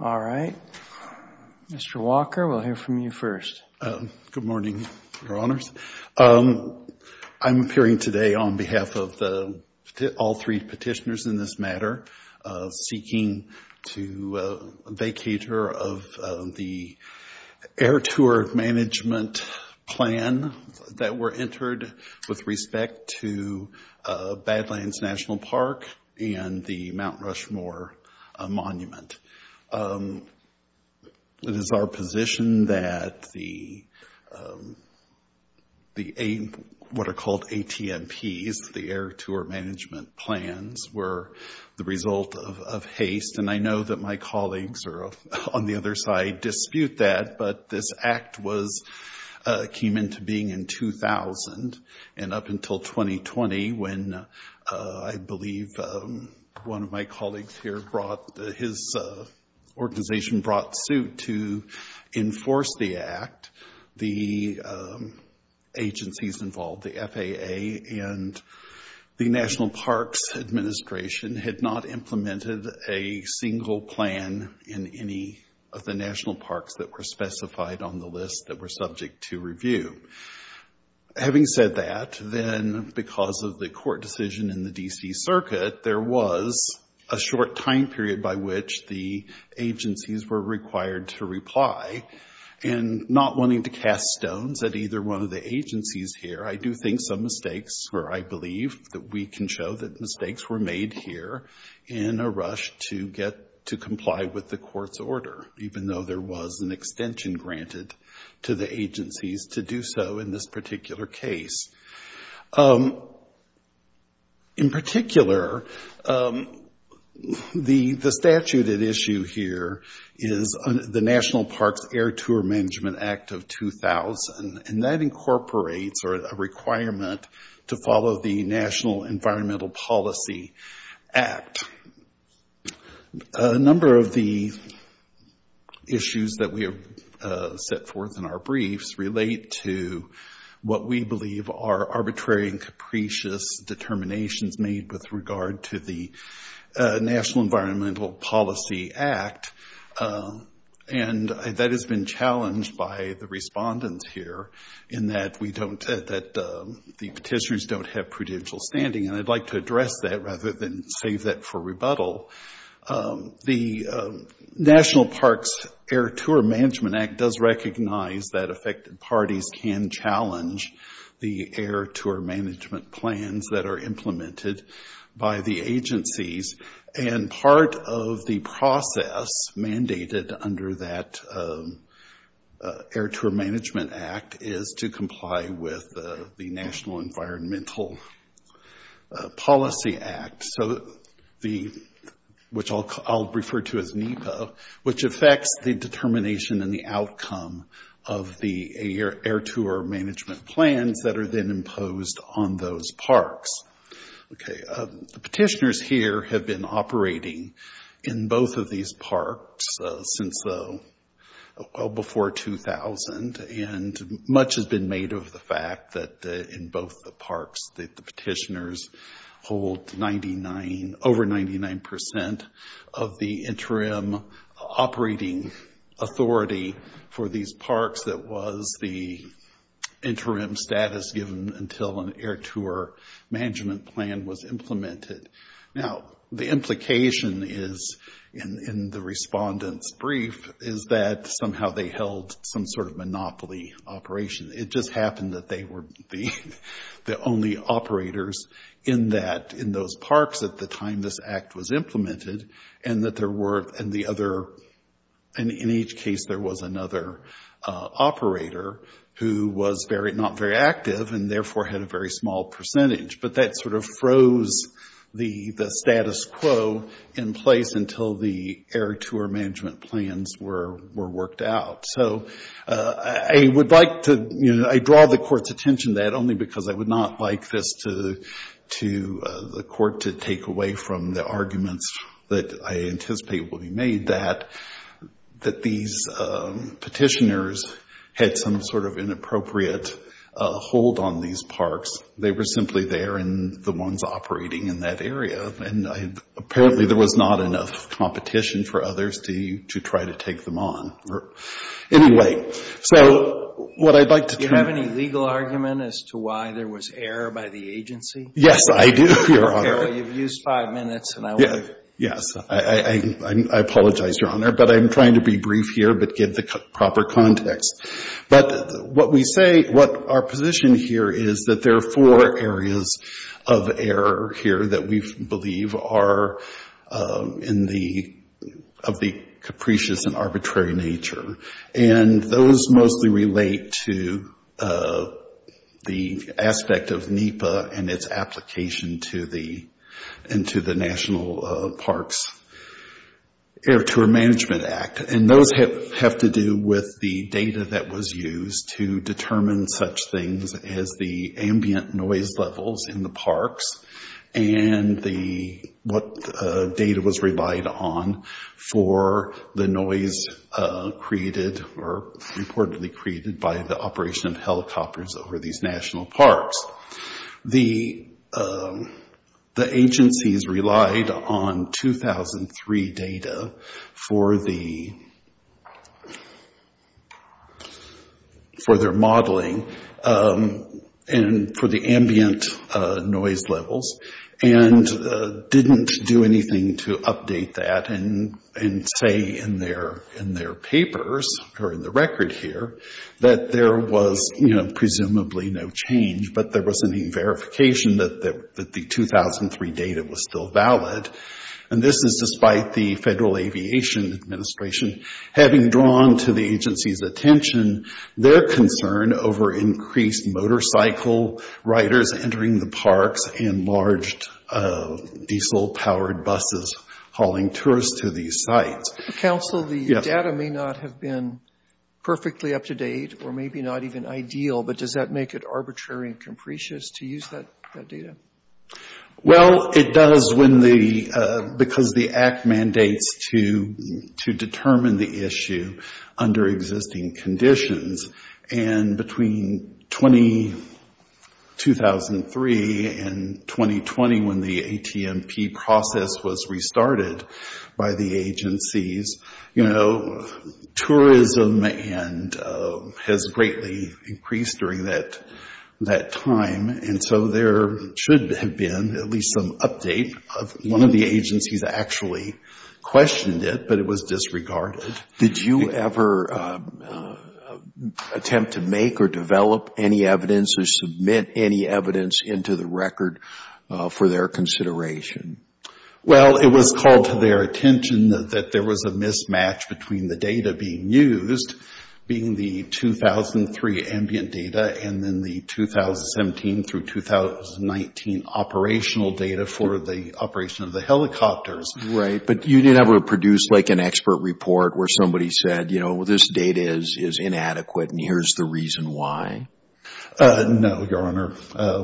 All right. Mr. Walker, we'll hear from you first. Good morning, Your Honors. I'm appearing today on behalf of all three petitioners in this matter, seeking to vacate the air tour management plan that were entered with respect to Badlands National Park and the Mount Rushmore Monument. It is our position that the, what are called ATMPs, the air tour management plans, were the result of haste. And I know that my colleagues are on the other side dispute that, but this came into being in 2000, and up until 2020, when I believe one of my colleagues here brought, his organization brought suit to enforce the act, the agencies involved, the FAA and the National Parks Administration, had not implemented a single plan in any of the national parks that were specified on the list that were subject to review. Having said that, then because of the court decision in the D.C. Circuit, there was a short time period by which the agencies were required to reply, and not wanting to cast stones at either one of the agencies here, I do think some mistakes, or I believe that we can show that mistakes were made here in a rush to get to comply with the court's order, even though there was an extension granted to the agencies to do so in this particular case. In particular, the statute at issue here is the National Parks Air Tour Management Act of 2000, and that incorporates a requirement to follow the National Environmental Policy Act. A number of the issues that we have set forth in our briefs relate to what we believe are arbitrary and capricious determinations made with regard to the National Environmental Policy Act. And that has been challenged by the respondents here, in that we don't, that the petitioners don't have prudential standing, and I'd like to address that rather than save that for rebuttal. The National Parks Air Tour Management Act does recognize that affected parties can challenge the air tour management plans that are implemented by the agencies, and part of the process mandated under that Air Tour Management Act is to comply with the National Environmental Policy Act, which I'll refer to as NEPA, which affects the determination and the outcome of the air tour management plans that are then imposed on those parks. Okay, the petitioners here have been operating in both of these parks since well before 2000, and much has been made of the fact that in both the parks that the petitioners hold over 99% of the interim operating authority for these parks that was the interim status given until an air tour management plan was implemented. Now, the implication is, in the respondent's brief, is that somehow they held some sort of monopoly operation. It just happened that they were the only operators in that, in those parks at the time this act was implemented, and that there were, and the other, in each case there was another operator who was not very active, and therefore had a very small percentage, but that sort of froze the status quo in place until the air tour management plans were worked out. So I would like to, you know, I draw the court's attention to that only because I would not like this to, the court to take away from the arguments that I anticipate will be made that these petitioners had some sort of inappropriate hold on these parks. They were simply there and the ones operating in that area, and apparently there was not enough competition for others to try to take them on. Anyway, so what I'd like to... Do you have any legal argument as to why there was error by the agency? Yes, I do, Your Honor. Carol, you've used five minutes, and I want to... Yes, I apologize, Your Honor, but I'm trying to be brief here, but give the proper context. But what we say, what our position here is that there are four areas of error here that we believe are of the capricious and arbitrary nature, and those mostly relate to the aspect of NEPA and its application into the National Parks Air Tour Management Act, and those have to do with the data that was used to determine such things as the ambient noise levels in the parks and what data was relied on for the noise created or reportedly created by the operation of helicopters over these national parks. The agencies relied on 2003 data for their modeling and for the ambient noise levels and didn't do anything to update that and say in their papers or in the change, but there wasn't any verification that the 2003 data was still valid. And this is despite the Federal Aviation Administration having drawn to the agency's attention their concern over increased motorcycle riders entering the parks and large diesel-powered buses hauling tourists to these sites. Counsel, the data may not have been perfectly up to date or maybe not even ideal, but does that make it arbitrary and capricious to use that data? Well, it does because the Act mandates to determine the issue under existing conditions, and between 2003 and 2020 when the ATMP process was restarted by the agencies, tourism has greatly increased during that time, and so there should have been at least some update of one of the agencies actually questioned it, but it was disregarded. Did you ever attempt to make or develop any evidence or submit any evidence into the record for their consideration? Well, it was called to their attention that there was a mismatch between the data being used, being the 2003 ambient data, and then the 2017 through 2019 operational data for the operation of the helicopters. Right, but you didn't ever produce like an expert report where somebody said, you know, well, this data is inadequate and here's the reason why? No, Your Honor,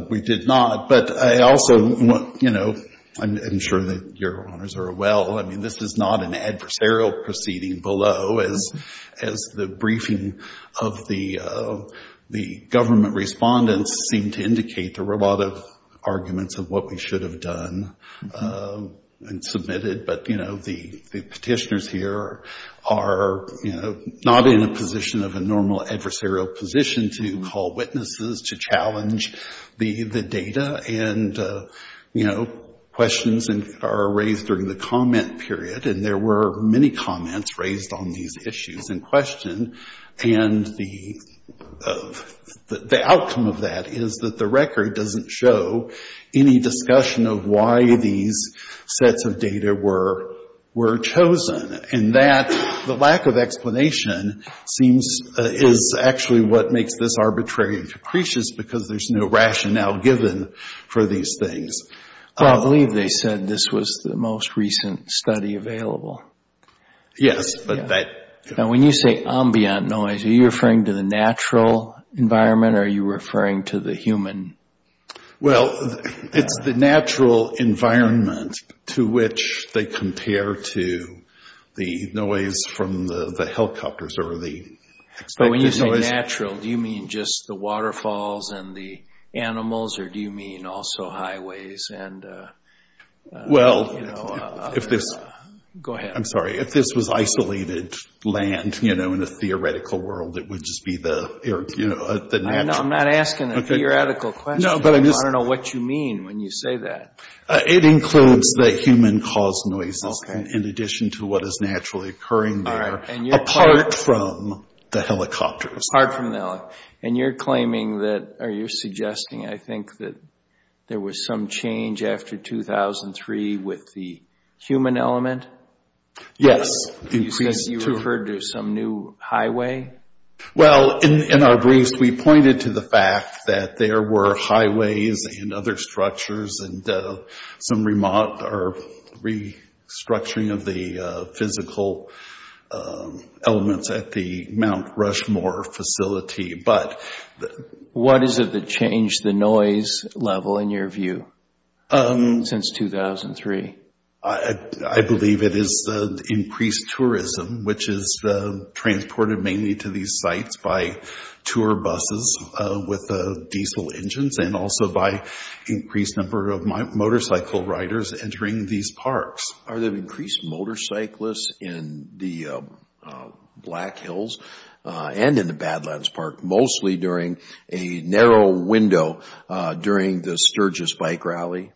we did not. But I also, you know, I'm sure that Your Honors are well, I mean, this is not an adversarial proceeding below as the briefing of the government respondents seemed to indicate there were a lot of arguments of what we should have done and submitted, but, you know, the petitioners here are, you know, not in a position of a normal adversarial position to call witnesses, to challenge the data, and, you know, questions are raised during the comment period, and there were many comments raised on these issues in question, and the outcome of that is that the record doesn't show any discussion of why these sets of data were chosen, and that the lack of explanation seems, is actually what makes this arbitrary and capricious because there's no rationale given for these things. Well, I believe they said this was the most recent study available. Yes, but that... Now, when you say ambient noise, are you referring to the natural environment or are you referring to the human? Well, it's the natural environment to which they compare to the noise from the helicopters or the... So when you say natural, do you mean just the waterfalls and the animals, or do you mean also highways and, you know, a... Well, if this... Go ahead. I'm sorry. If this was isolated land, you know, in a theoretical world, it would just be the, you know, the natural... I'm not asking a theoretical question. No, but I'm just... I don't know what you mean when you say that. It includes the human-caused noises in addition to what is naturally occurring there, apart from the helicopters. Apart from the helicopters. And you're claiming that, or you're suggesting, I think, that there was some change after 2003 with the human element? Yes. You said you referred to some new highway? Well, in our briefs, we pointed to the fact that there were highways and other structures and some remote or restructuring of the physical elements at the Mount Rushmore facility, but... What is it that changed the noise level, in your view, since 2003? I believe it is the increased tourism, which is transported mainly to these sites by tour buses with diesel engines, and also by increased number of motorcycle riders entering these parks. Are there increased motorcyclists in the Black Hills and in the Badlands Park, mostly during a narrow window during the Sturgis bike rally?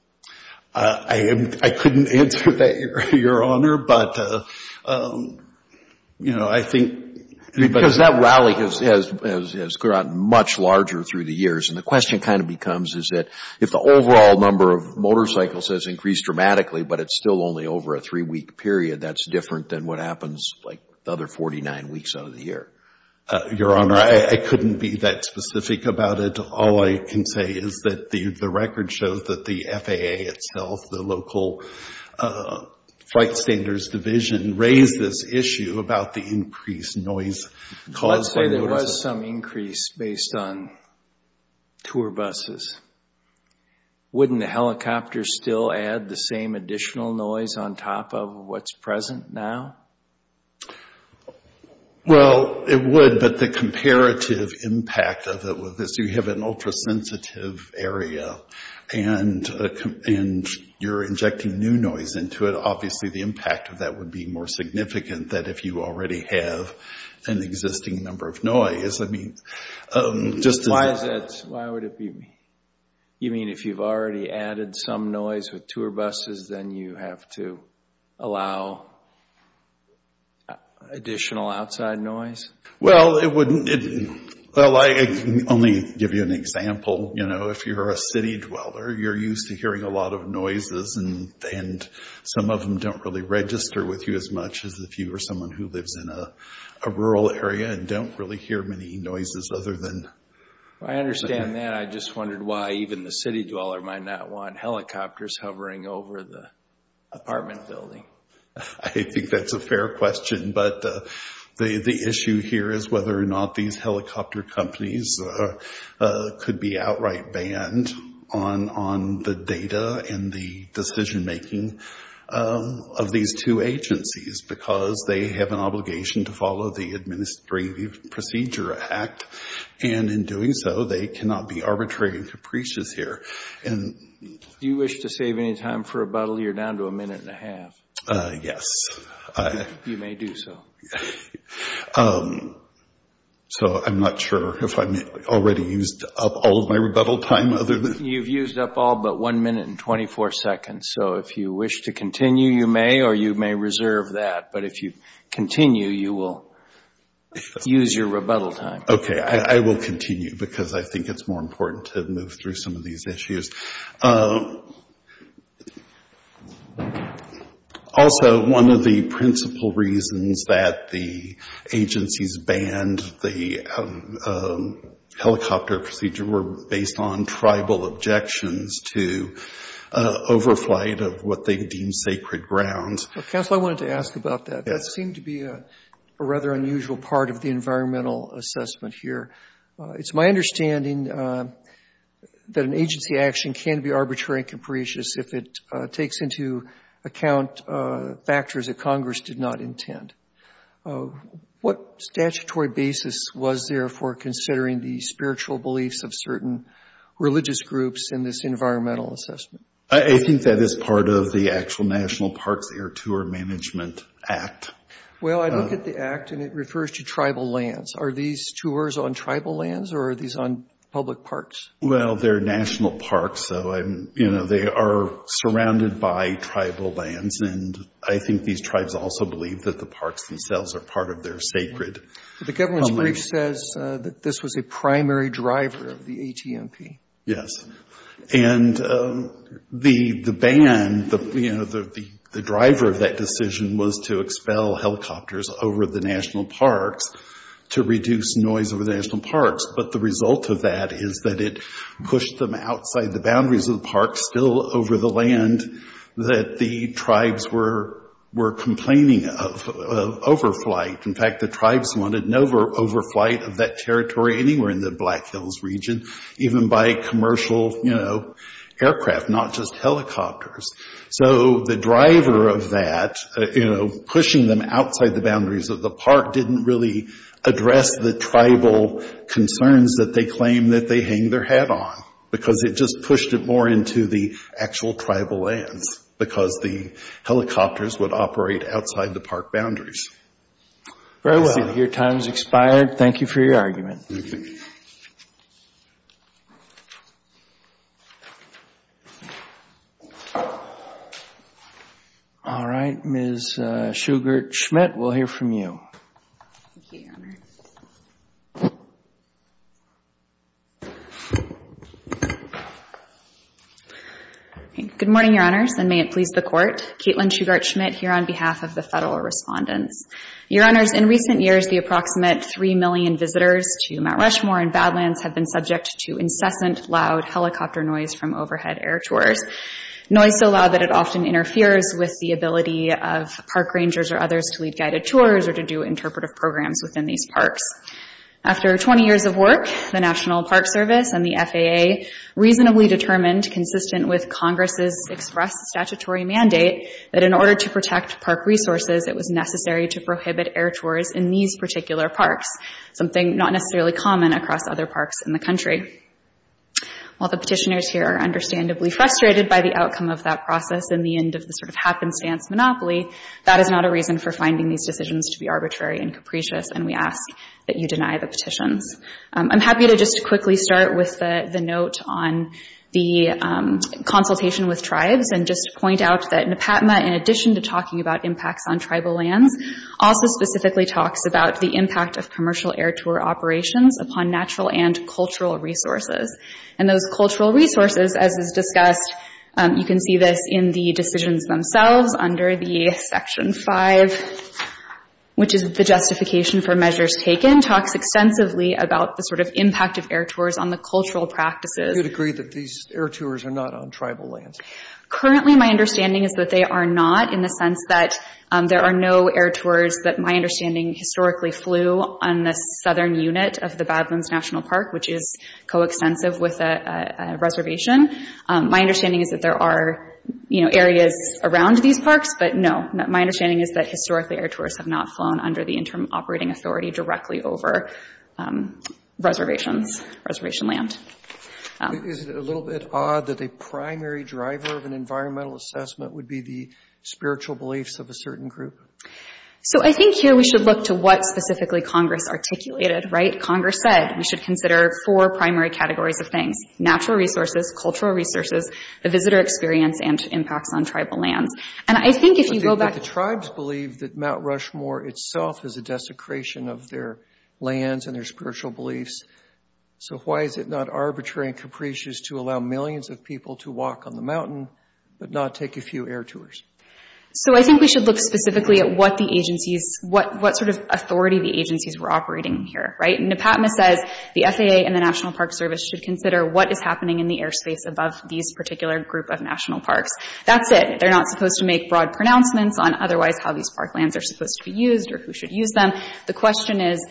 I couldn't answer that, Your Honor, but, you know, I think... Because that rally has grown much larger through the years, and the question kind of becomes, is that if the overall number of motorcycles has increased dramatically, but it's still only over a three-week period, that's different than what happens, like, the other 49 weeks out of the year? Your Honor, I couldn't be that specific about it. All I can say is that the record shows that the FAA itself, the local flight standards division, raised this issue about the increased noise caused by motorcyc... Let's say there was some increase based on tour buses. Wouldn't the helicopters still add the same additional noise on top of what's present now? Well, it would, but the comparative impact of it would... You have an ultra-sensitive area, and you're injecting new noise into it. Obviously, the impact of that would be more significant than if you already have an existing number of noise. I mean, just as... Why is that? Why would it be... You mean if you've already added some noise with tour buses, then you have to allow additional outside noise? Well, it wouldn't... Well, I can only give you an example. You know, if you're a city dweller, you're used to hearing a lot of noises, and some of them don't really register with you as much as if you were someone who lives in a rural area and don't really hear many noises other than... I understand that. I just wondered why even the city dweller might not want helicopters hovering over the apartment building. I think that's a fair question. But the issue here is whether or not these helicopter companies could be outright banned on the data and the decision-making of these two agencies, because they have an obligation to follow the Administrative Procedure Act. And in doing so, they cannot be arbitrary and capricious here. And... If you wish to save any time for rebuttal, you're down to a minute and a half. Yes. You may do so. So I'm not sure if I've already used up all of my rebuttal time other than... You've used up all but one minute and 24 seconds. So if you wish to continue, you may, or you may reserve that. But if you continue, you will use your rebuttal time. Okay, I will continue, because I think it's more important to move through some of these issues. Also, one of the principal reasons that the agencies banned the helicopter procedure were based on tribal objections to overflight of what they deemed sacred grounds. Well, Counselor, I wanted to ask about that. That seemed to be a rather unusual part of the environmental assessment here. It's my understanding that an agency action can be arbitrary and capricious if it takes into account factors that Congress did not intend. What statutory basis was there for considering the spiritual beliefs of certain religious groups in this environmental assessment? I think that is part of the actual National Parks Air Tour Management Act. Well, I look at the Act, and it refers to tribal lands. Are these tours on tribal lands, or are these on public parks? Well, they're national parks, so they are surrounded by tribal lands. And I think these tribes also believe that the parks themselves are part of their sacred. The government's brief says that this was a primary driver of the ATMP. Yes. And the ban, the driver of that decision was to expel helicopters over the national parks to reduce noise over the national parks. But the result of that is that it pushed them outside the boundaries of the parks still over the land that the tribes were complaining of, of overflight. In fact, the tribes wanted no overflight of that territory anywhere in the Black Hills region, even by commercial, you know, aircraft, not just helicopters. So the driver of that, you know, pushing them outside the boundaries of the park didn't really address the tribal concerns that they claim that they hang their hat on, because it just pushed it more into the actual tribal lands, because the helicopters would operate outside the park boundaries. Very well. Your time has expired. Thank you for your argument. Thank you. All right. Ms. Shugart-Schmidt, we'll hear from you. Thank you, Your Honor. Good morning, Your Honors, and may it please the Court. Caitlin Shugart-Schmidt here on behalf of the federal respondents. Your Honors, in recent years, the approximate three million visitors to Mount Rushmore and Badlands have been subject to incessant loud helicopter noise from overhead air tours. Noise so loud that it often interferes with the ability of park rangers or others to lead guided tours or to do interpretive programs within these parks. After 20 years of work, the National Park Service and the FAA reasonably determined, consistent with Congress's expressed statutory mandate, that in order to protect park resources, it was necessary to prohibit air tours in these particular parks, something not necessarily common across other parks in the country. While the petitioners here are understandably frustrated by the outcome of that process and the end of the sort of happenstance monopoly, that is not a reason for finding these decisions to be arbitrary and capricious, and we ask that you deny the petitions. I'm happy to just quickly start with the note on the consultation with tribes and just point out that NEPATMA, in addition to talking about impacts on tribal lands, also specifically talks about the impact of commercial air tour operations upon natural and cultural resources. And those cultural resources, as is discussed, you can see this in the decisions themselves under the Section 5, which is the justification for measures taken, talks extensively about the sort of impact of air tours on the cultural practices. Do you agree that these air tours are not on tribal lands? Currently, my understanding is that they are not in the sense that there are no air tours that my understanding historically flew on the southern unit of the Badlands National Park, which is coextensive with a reservation. My understanding is that there are, you know, areas around these parks, but no, my understanding is that historically air tours have not flown under the interim operating authority directly over reservations, reservation land. Is it a little bit odd that a primary driver of an environmental assessment would be the spiritual beliefs of a certain group? So I think here we should look to what specifically Congress articulated, right? Congress said we should consider four primary categories of things, natural resources, cultural resources, the visitor experience, and impacts on tribal lands. And I think if you go back to… But the tribes believe that Mount Rushmore itself is a desecration of their lands and their spiritual beliefs, so why is it not arbitrary and capricious to allow millions of people to walk on the mountain but not take a few air tours? So I think we should look specifically at what the agencies, what sort of authority the agencies were operating here, right? NEPATMA says the FAA and the National Park Service should consider what is happening in the airspace above these particular group of national parks. That's it. They're not supposed to make broad pronouncements on otherwise how these park lands are supposed to be used or who should use them. The question is,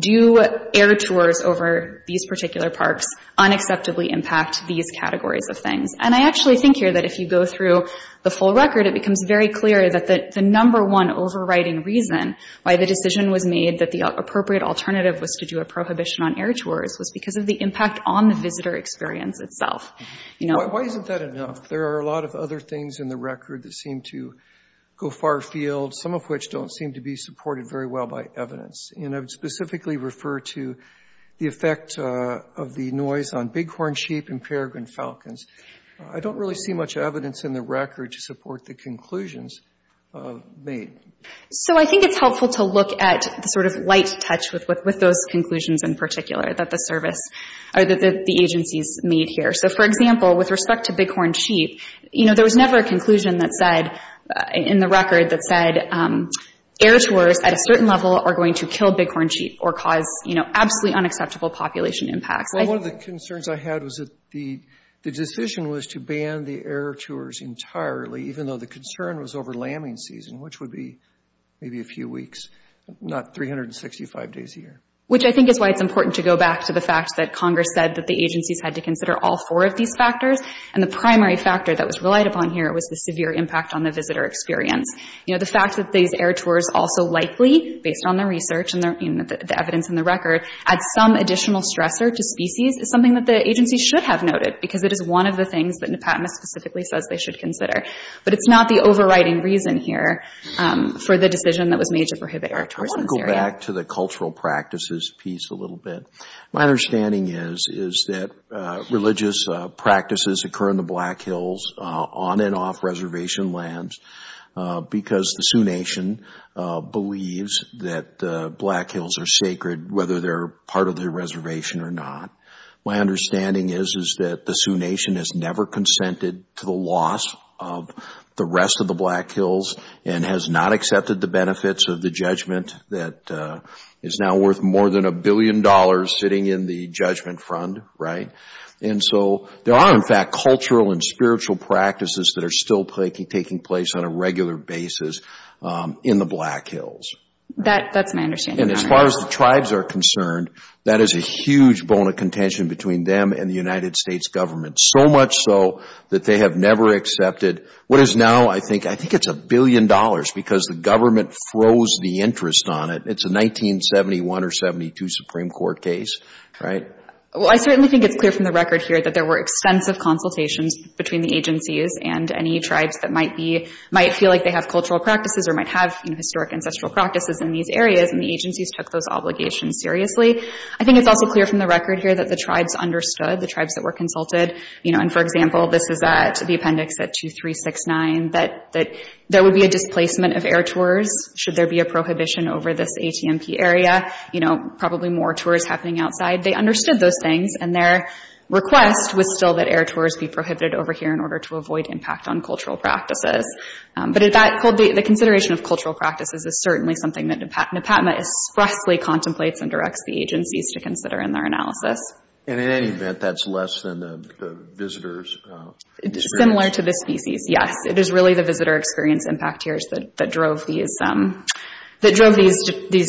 do air tours over these particular parks unacceptably impact these categories of things? And I actually think here that if you go through the full record, it becomes very clear that the number one overriding reason why the decision was made that the appropriate alternative was to do a prohibition on air tours was because of the impact on the visitor experience itself. Why isn't that enough? There are a lot of other things in the record that seem to go far field, some of which don't seem to be supported very well by evidence, and I would specifically refer to the effect of the noise on bighorn sheep and peregrine falcons. I don't really see much evidence in the record to support the conclusions made. So I think it's helpful to look at the sort of light touch with those conclusions in particular that the service or that the agencies made here. So, for example, with respect to bighorn sheep, you know, there was never a air tours at a certain level are going to kill bighorn sheep or cause, you know, absolutely unacceptable population impacts. Well, one of the concerns I had was that the decision was to ban the air tours entirely, even though the concern was over lambing season, which would be maybe a few weeks, not 365 days a year. Which I think is why it's important to go back to the fact that Congress said that the agencies had to consider all four of these factors, and the primary factor that was relied upon here was the severe impact on the visitor experience. You know, the fact that these air tours also likely, based on the research and the evidence in the record, add some additional stressor to species is something that the agencies should have noted, because it is one of the things that NEPATMA specifically says they should consider. But it's not the overriding reason here for the decision that was made to prohibit air tours in this area. I want to go back to the cultural practices piece a little bit. My understanding is that religious practices occur in the Black Hills, on and off reservation lands, because the Sioux Nation believes that the Black Hills are sacred, whether they're part of the reservation or not. My understanding is that the Sioux Nation has never consented to the loss of the rest of the Black Hills and has not accepted the benefits of the judgment that is now worth more than a billion dollars sitting in the judgment front, right? And so there are, in fact, cultural and spiritual practices that are still taking place on a regular basis in the Black Hills. That's my understanding. And as far as the tribes are concerned, that is a huge bone of contention between them and the United States government, so much so that they have never accepted what is now, I think it's a billion dollars, because the government froze the interest on it. It's a 1971 or 72 Supreme Court case, right? Well, I certainly think it's clear from the record here that there were extensive consultations between the agencies and any tribes that might feel like they have cultural practices or might have historic ancestral practices in these areas, and the agencies took those obligations seriously. I think it's also clear from the record here that the tribes understood, the tribes that were consulted. And for example, this is the appendix at 2369, that there would be a displacement of air tours should there be a prohibition over this ATMP area, probably more tours happening outside. They understood those things, and their request was still that air tours be prohibited over here in order to avoid impact on cultural practices. But the consideration of cultural practices is certainly something that NEPATMA expressly contemplates and directs the agencies to consider in their analysis. And in any event, that's less than the visitor's experience? Similar to the species, yes. It is really the visitor experience impact tiers that drove these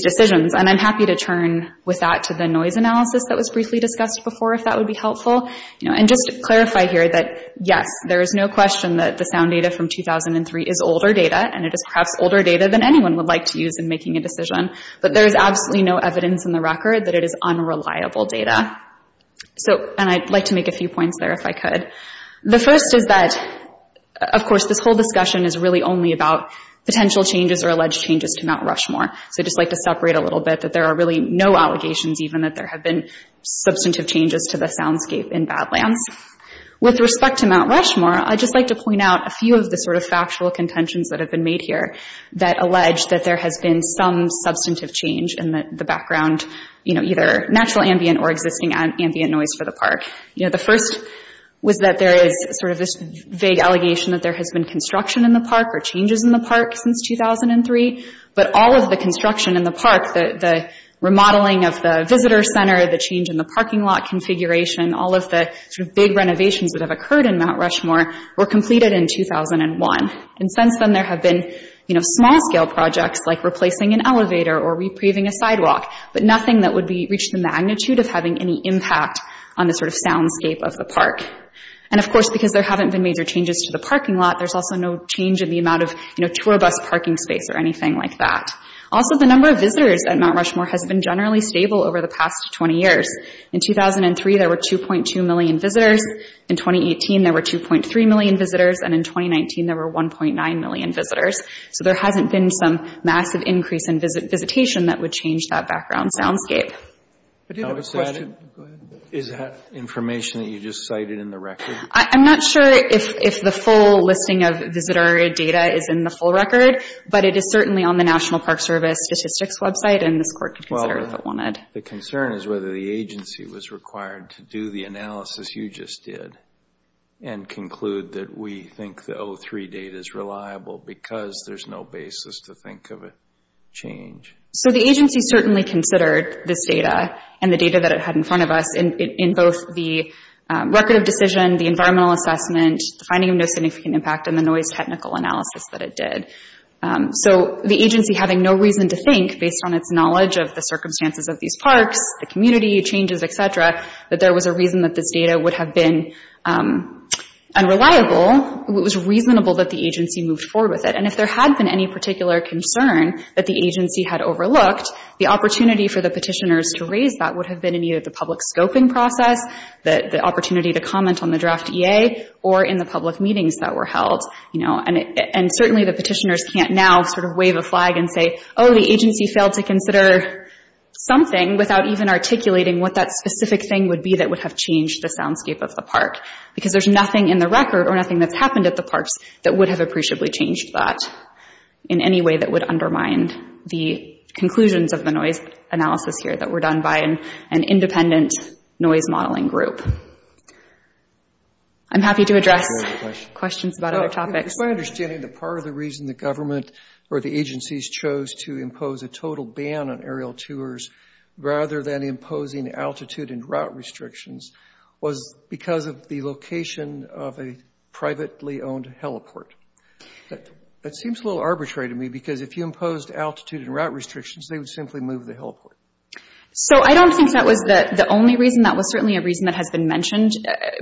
decisions. And I'm happy to turn with that to the noise analysis that was briefly discussed before, if that would be helpful. And just to clarify here that yes, there is no question that the sound data from 2003 is older data, and it is perhaps older data than anyone would like to use in making a decision, but there is absolutely no evidence in the record that it is unreliable data. And I'd like to make a few points there if I could. The first is that, of course, this whole discussion is really only about potential changes or alleged changes to Mount Rushmore. So I'd just like to separate a little bit that there are really no allegations even that there have been substantive changes to the soundscape in Badlands. With respect to Mount Rushmore, I'd just like to point out a few of the sort of factual contentions that have been made here that allege that there has been some substantive change in the background, you know, either natural ambient or existing ambient noise for the park. You know, the first was that there is sort of this vague allegation that there has been construction in the park or changes in the park since 2003. But all of the construction in the park, the remodeling of the visitor center, the change in the parking lot configuration, all of the sort of big renovations that have occurred in Mount Rushmore were completed in 2001. And since then, there have been, you know, small-scale projects like replacing an elevator or repaving a sidewalk, but nothing that would reach the magnitude of having any impact on the sort of soundscape of the park. And, of course, because there haven't been major changes to the parking lot, there's also no change in the amount of, you know, tour bus parking space or anything like that. Also, the number of visitors at Mount Rushmore has been generally stable over the past 20 years. In 2003, there were 2.2 million visitors. In 2018, there were 2.3 million visitors. And in 2019, there were 1.9 million visitors. So there hasn't been some massive increase in visitation that would change that background soundscape. I do have a question. Go ahead. Is that information that you just cited in the record? I'm not sure if the full listing of visitor data is in the full record, but it is certainly on the National Park Service statistics website, and this court could consider if it wanted. The concern is whether the agency was required to do the analysis you just did and conclude that we think the 03 data is reliable because there's no basis to think of a change. So the agency certainly considered this data and the data that it had in front of us in both the record of decision, the environmental assessment, the finding of no significant impact, and the noise technical analysis that it did. So the agency having no reason to think, based on its knowledge of the circumstances of these parks, the community, changes, et cetera, that there was a reason that this data would have been unreliable, it was reasonable that the agency moved forward with it. And if there had been any particular concern that the agency had overlooked, the opportunity for the petitioners to raise that would have been either the public scoping process, the opportunity to comment on the draft EA, or in the public meetings that were held. And certainly the petitioners can't now sort of wave a flag and say, oh, the agency failed to consider something without even articulating what that specific thing would be that would have changed the soundscape of the park, because there's nothing in the record or nothing that's happened at the parks that would have appreciably changed that in any way that would undermine the conclusions of the noise analysis here that were done by an independent noise modeling group. I'm happy to address questions about other topics. It's my understanding that part of the reason the government or the agencies chose to impose a total ban on aerial tours rather than imposing altitude and route restrictions was because of the location of a privately owned heliport. That seems a little arbitrary to me, because if you imposed altitude and route restrictions, they would simply move the heliport. So I don't think that was the only reason. That was certainly a reason that has been mentioned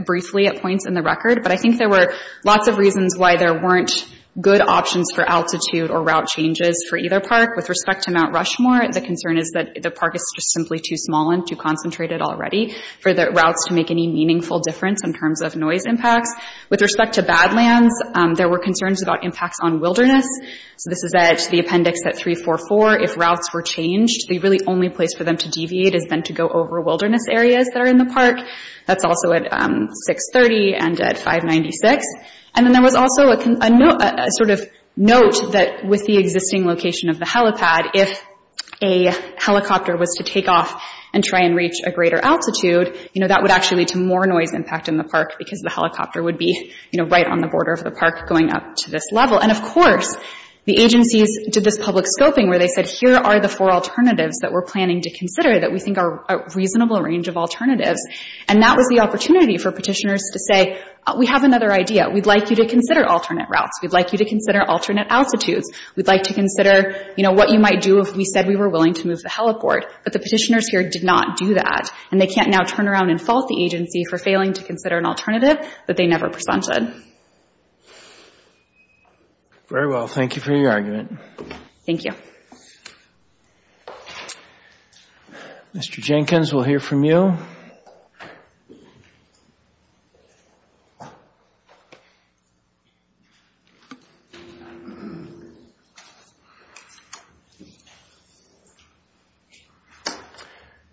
briefly at points in the record. But I think there were lots of reasons why there weren't good options for altitude or route changes for either park. With respect to Mount Rushmore, the concern is that the park is just simply too small and too concentrated already for the routes to make any meaningful difference in terms of noise impacts. With respect to Badlands, there were concerns about impacts on wilderness. So this is the appendix at 344. If routes were changed, the really only place for them to deviate is then to go over wilderness areas that are in the park. That's also at 630 and at 596. And then there was also a note that with the existing location of the helipad, if a helicopter was to take off and try and reach a greater altitude, that would actually lead to more noise impact in the park, because the helicopter would be right on the border of the park going up to this level. And of course, the agencies did this public scoping where they said, here are the four alternatives that we're planning to consider that we think are a reasonable range of alternatives. And that was the opportunity for petitioners to say, we have another idea. We'd like you to consider alternate routes. We'd like you to consider alternate altitudes. We'd like to consider what you might do if we said we were willing to move the heliport. But the petitioners here did not do that, and they can't now turn around and fault the agency for failing to consider an alternative that they never presented. Very well. Thank you for your argument. Thank you. Mr. Jenkins, we'll hear from you.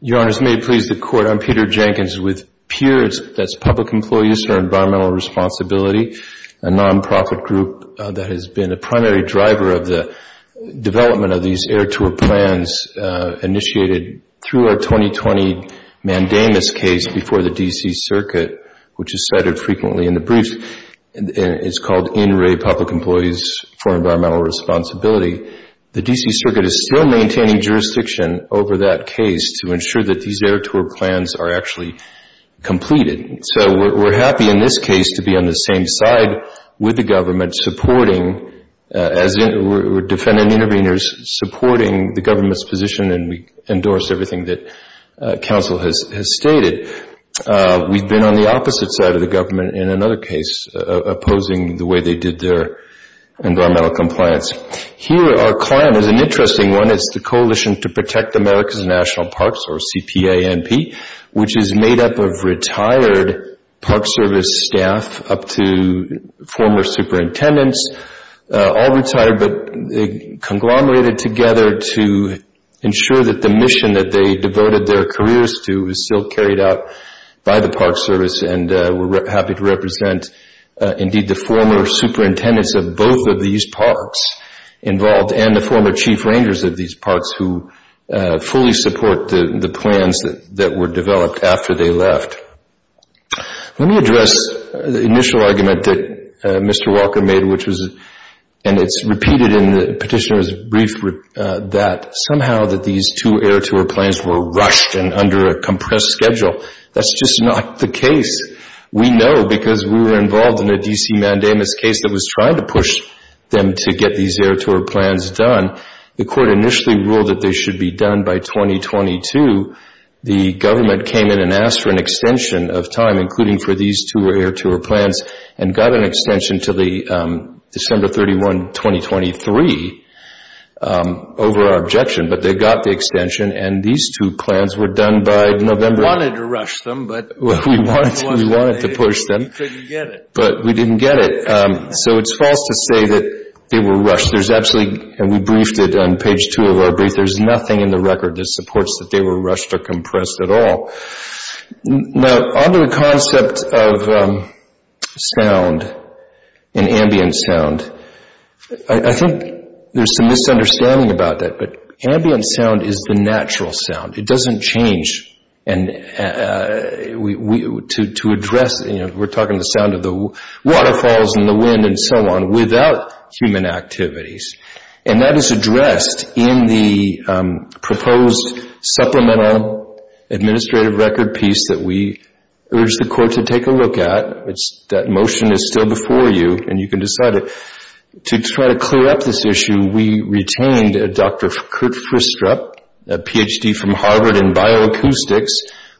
Your Honors, may it please the Court. I'm Peter Jenkins with PEERS. That's Public Employees for Environmental Responsibility, a nonprofit group that has been a primary driver of the development of these air tour plans initiated through our 2020 mandamus case before the D.C. Circuit, which is cited frequently in the brief. It's called In Re Public Employees for Environmental Responsibility. The D.C. Circuit is still maintaining jurisdiction over that case to ensure that these air tour plans are actually completed. So we're happy in this case to be on the same side with the government, as we're defending interveners, supporting the government's position, and we endorse everything that counsel has stated. We've been on the opposite side of the government in another case, opposing the way they did their environmental compliance. Here, our plan is an interesting one. It's the Coalition to Protect America's National Parks, or CPANP, which is made up of retired Park Service staff up to former superintendents, all retired but conglomerated together to ensure that the mission that they devoted their careers to is still carried out by the Park Service, and we're happy to represent indeed the former superintendents of both of these parks involved and the former chief rangers of these parks who fully support the plans that were developed after they left. Let me address the initial argument that Mr. Walker made, which was, and it's repeated in the petitioner's brief, that somehow that these two air tour plans were rushed and under a compressed schedule. That's just not the case. We know because we were involved in a D.C. mandamus case that was trying to push them to get these air tour plans done. The court initially ruled that they should be done by 2022. The government came in and asked for an extension of time, including for these two air tour plans, and got an extension until December 31, 2023, over our objection, but they got the extension, and these two plans were done by November. We wanted to rush them, but we couldn't get it. But we didn't get it, so it's false to say that they were rushed. There's absolutely, and we briefed it on page two of our brief, there's nothing in the record that supports that they were rushed or compressed at all. Now, on to the concept of sound and ambient sound, I think there's some misunderstanding about that, but ambient sound is the natural sound. It doesn't change. We're talking the sound of the waterfalls and the wind and so on without human activities, and that is addressed in the proposed supplemental administrative record piece that we urge the court to take a look at. That motion is still before you, and you can decide it. To try to clear up this issue, we retained Dr. Kurt Fristrup, a Ph.D. from Harvard in bioacoustics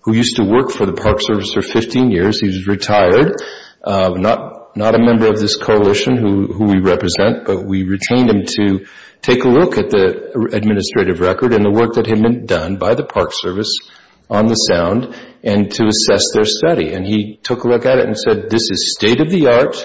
who used to work for the Park Service for 15 years. He's retired, not a member of this coalition who we represent, but we retained him to take a look at the administrative record and the work that had been done by the Park Service on the sound and to assess their study, and he took a look at it and said, this is state-of-the-art,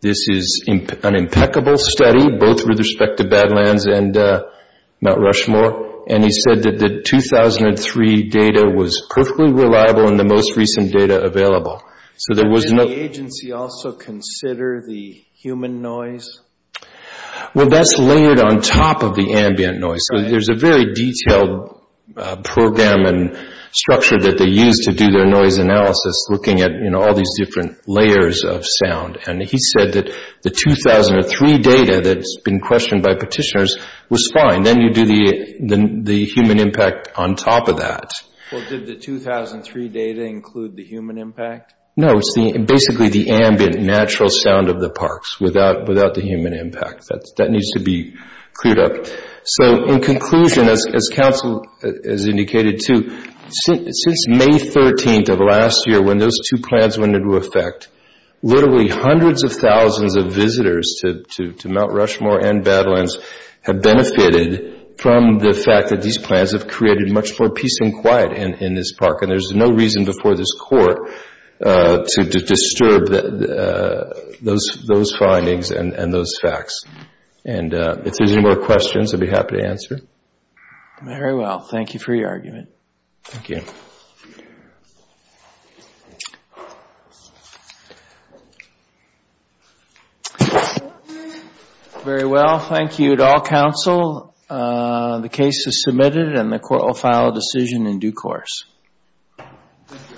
this is an impeccable study, both with respect to Badlands and Mount Rushmore, and he said that the 2003 data was perfectly reliable and the most recent data available. Did the agency also consider the human noise? Well, that's layered on top of the ambient noise, so there's a very detailed program and structure that they used to do their noise analysis looking at all these different layers of sound, and he said that the 2003 data that's been questioned by petitioners was fine. Then you do the human impact on top of that. Well, did the 2003 data include the human impact? No, it's basically the ambient, natural sound of the parks without the human impact. That needs to be cleared up. So in conclusion, as counsel has indicated too, since May 13th of last year when those two plans went into effect, literally hundreds of thousands of visitors to Mount Rushmore and Badlands have benefited from the fact that these plans have created much more peace and quiet in this park, and there's no reason before this Court to disturb those findings and those facts. If there's any more questions, I'd be happy to answer. Very well. Thank you for your argument. Thank you. Very well. Thank you to all counsel. The case is submitted and the Court will file a decision in due course.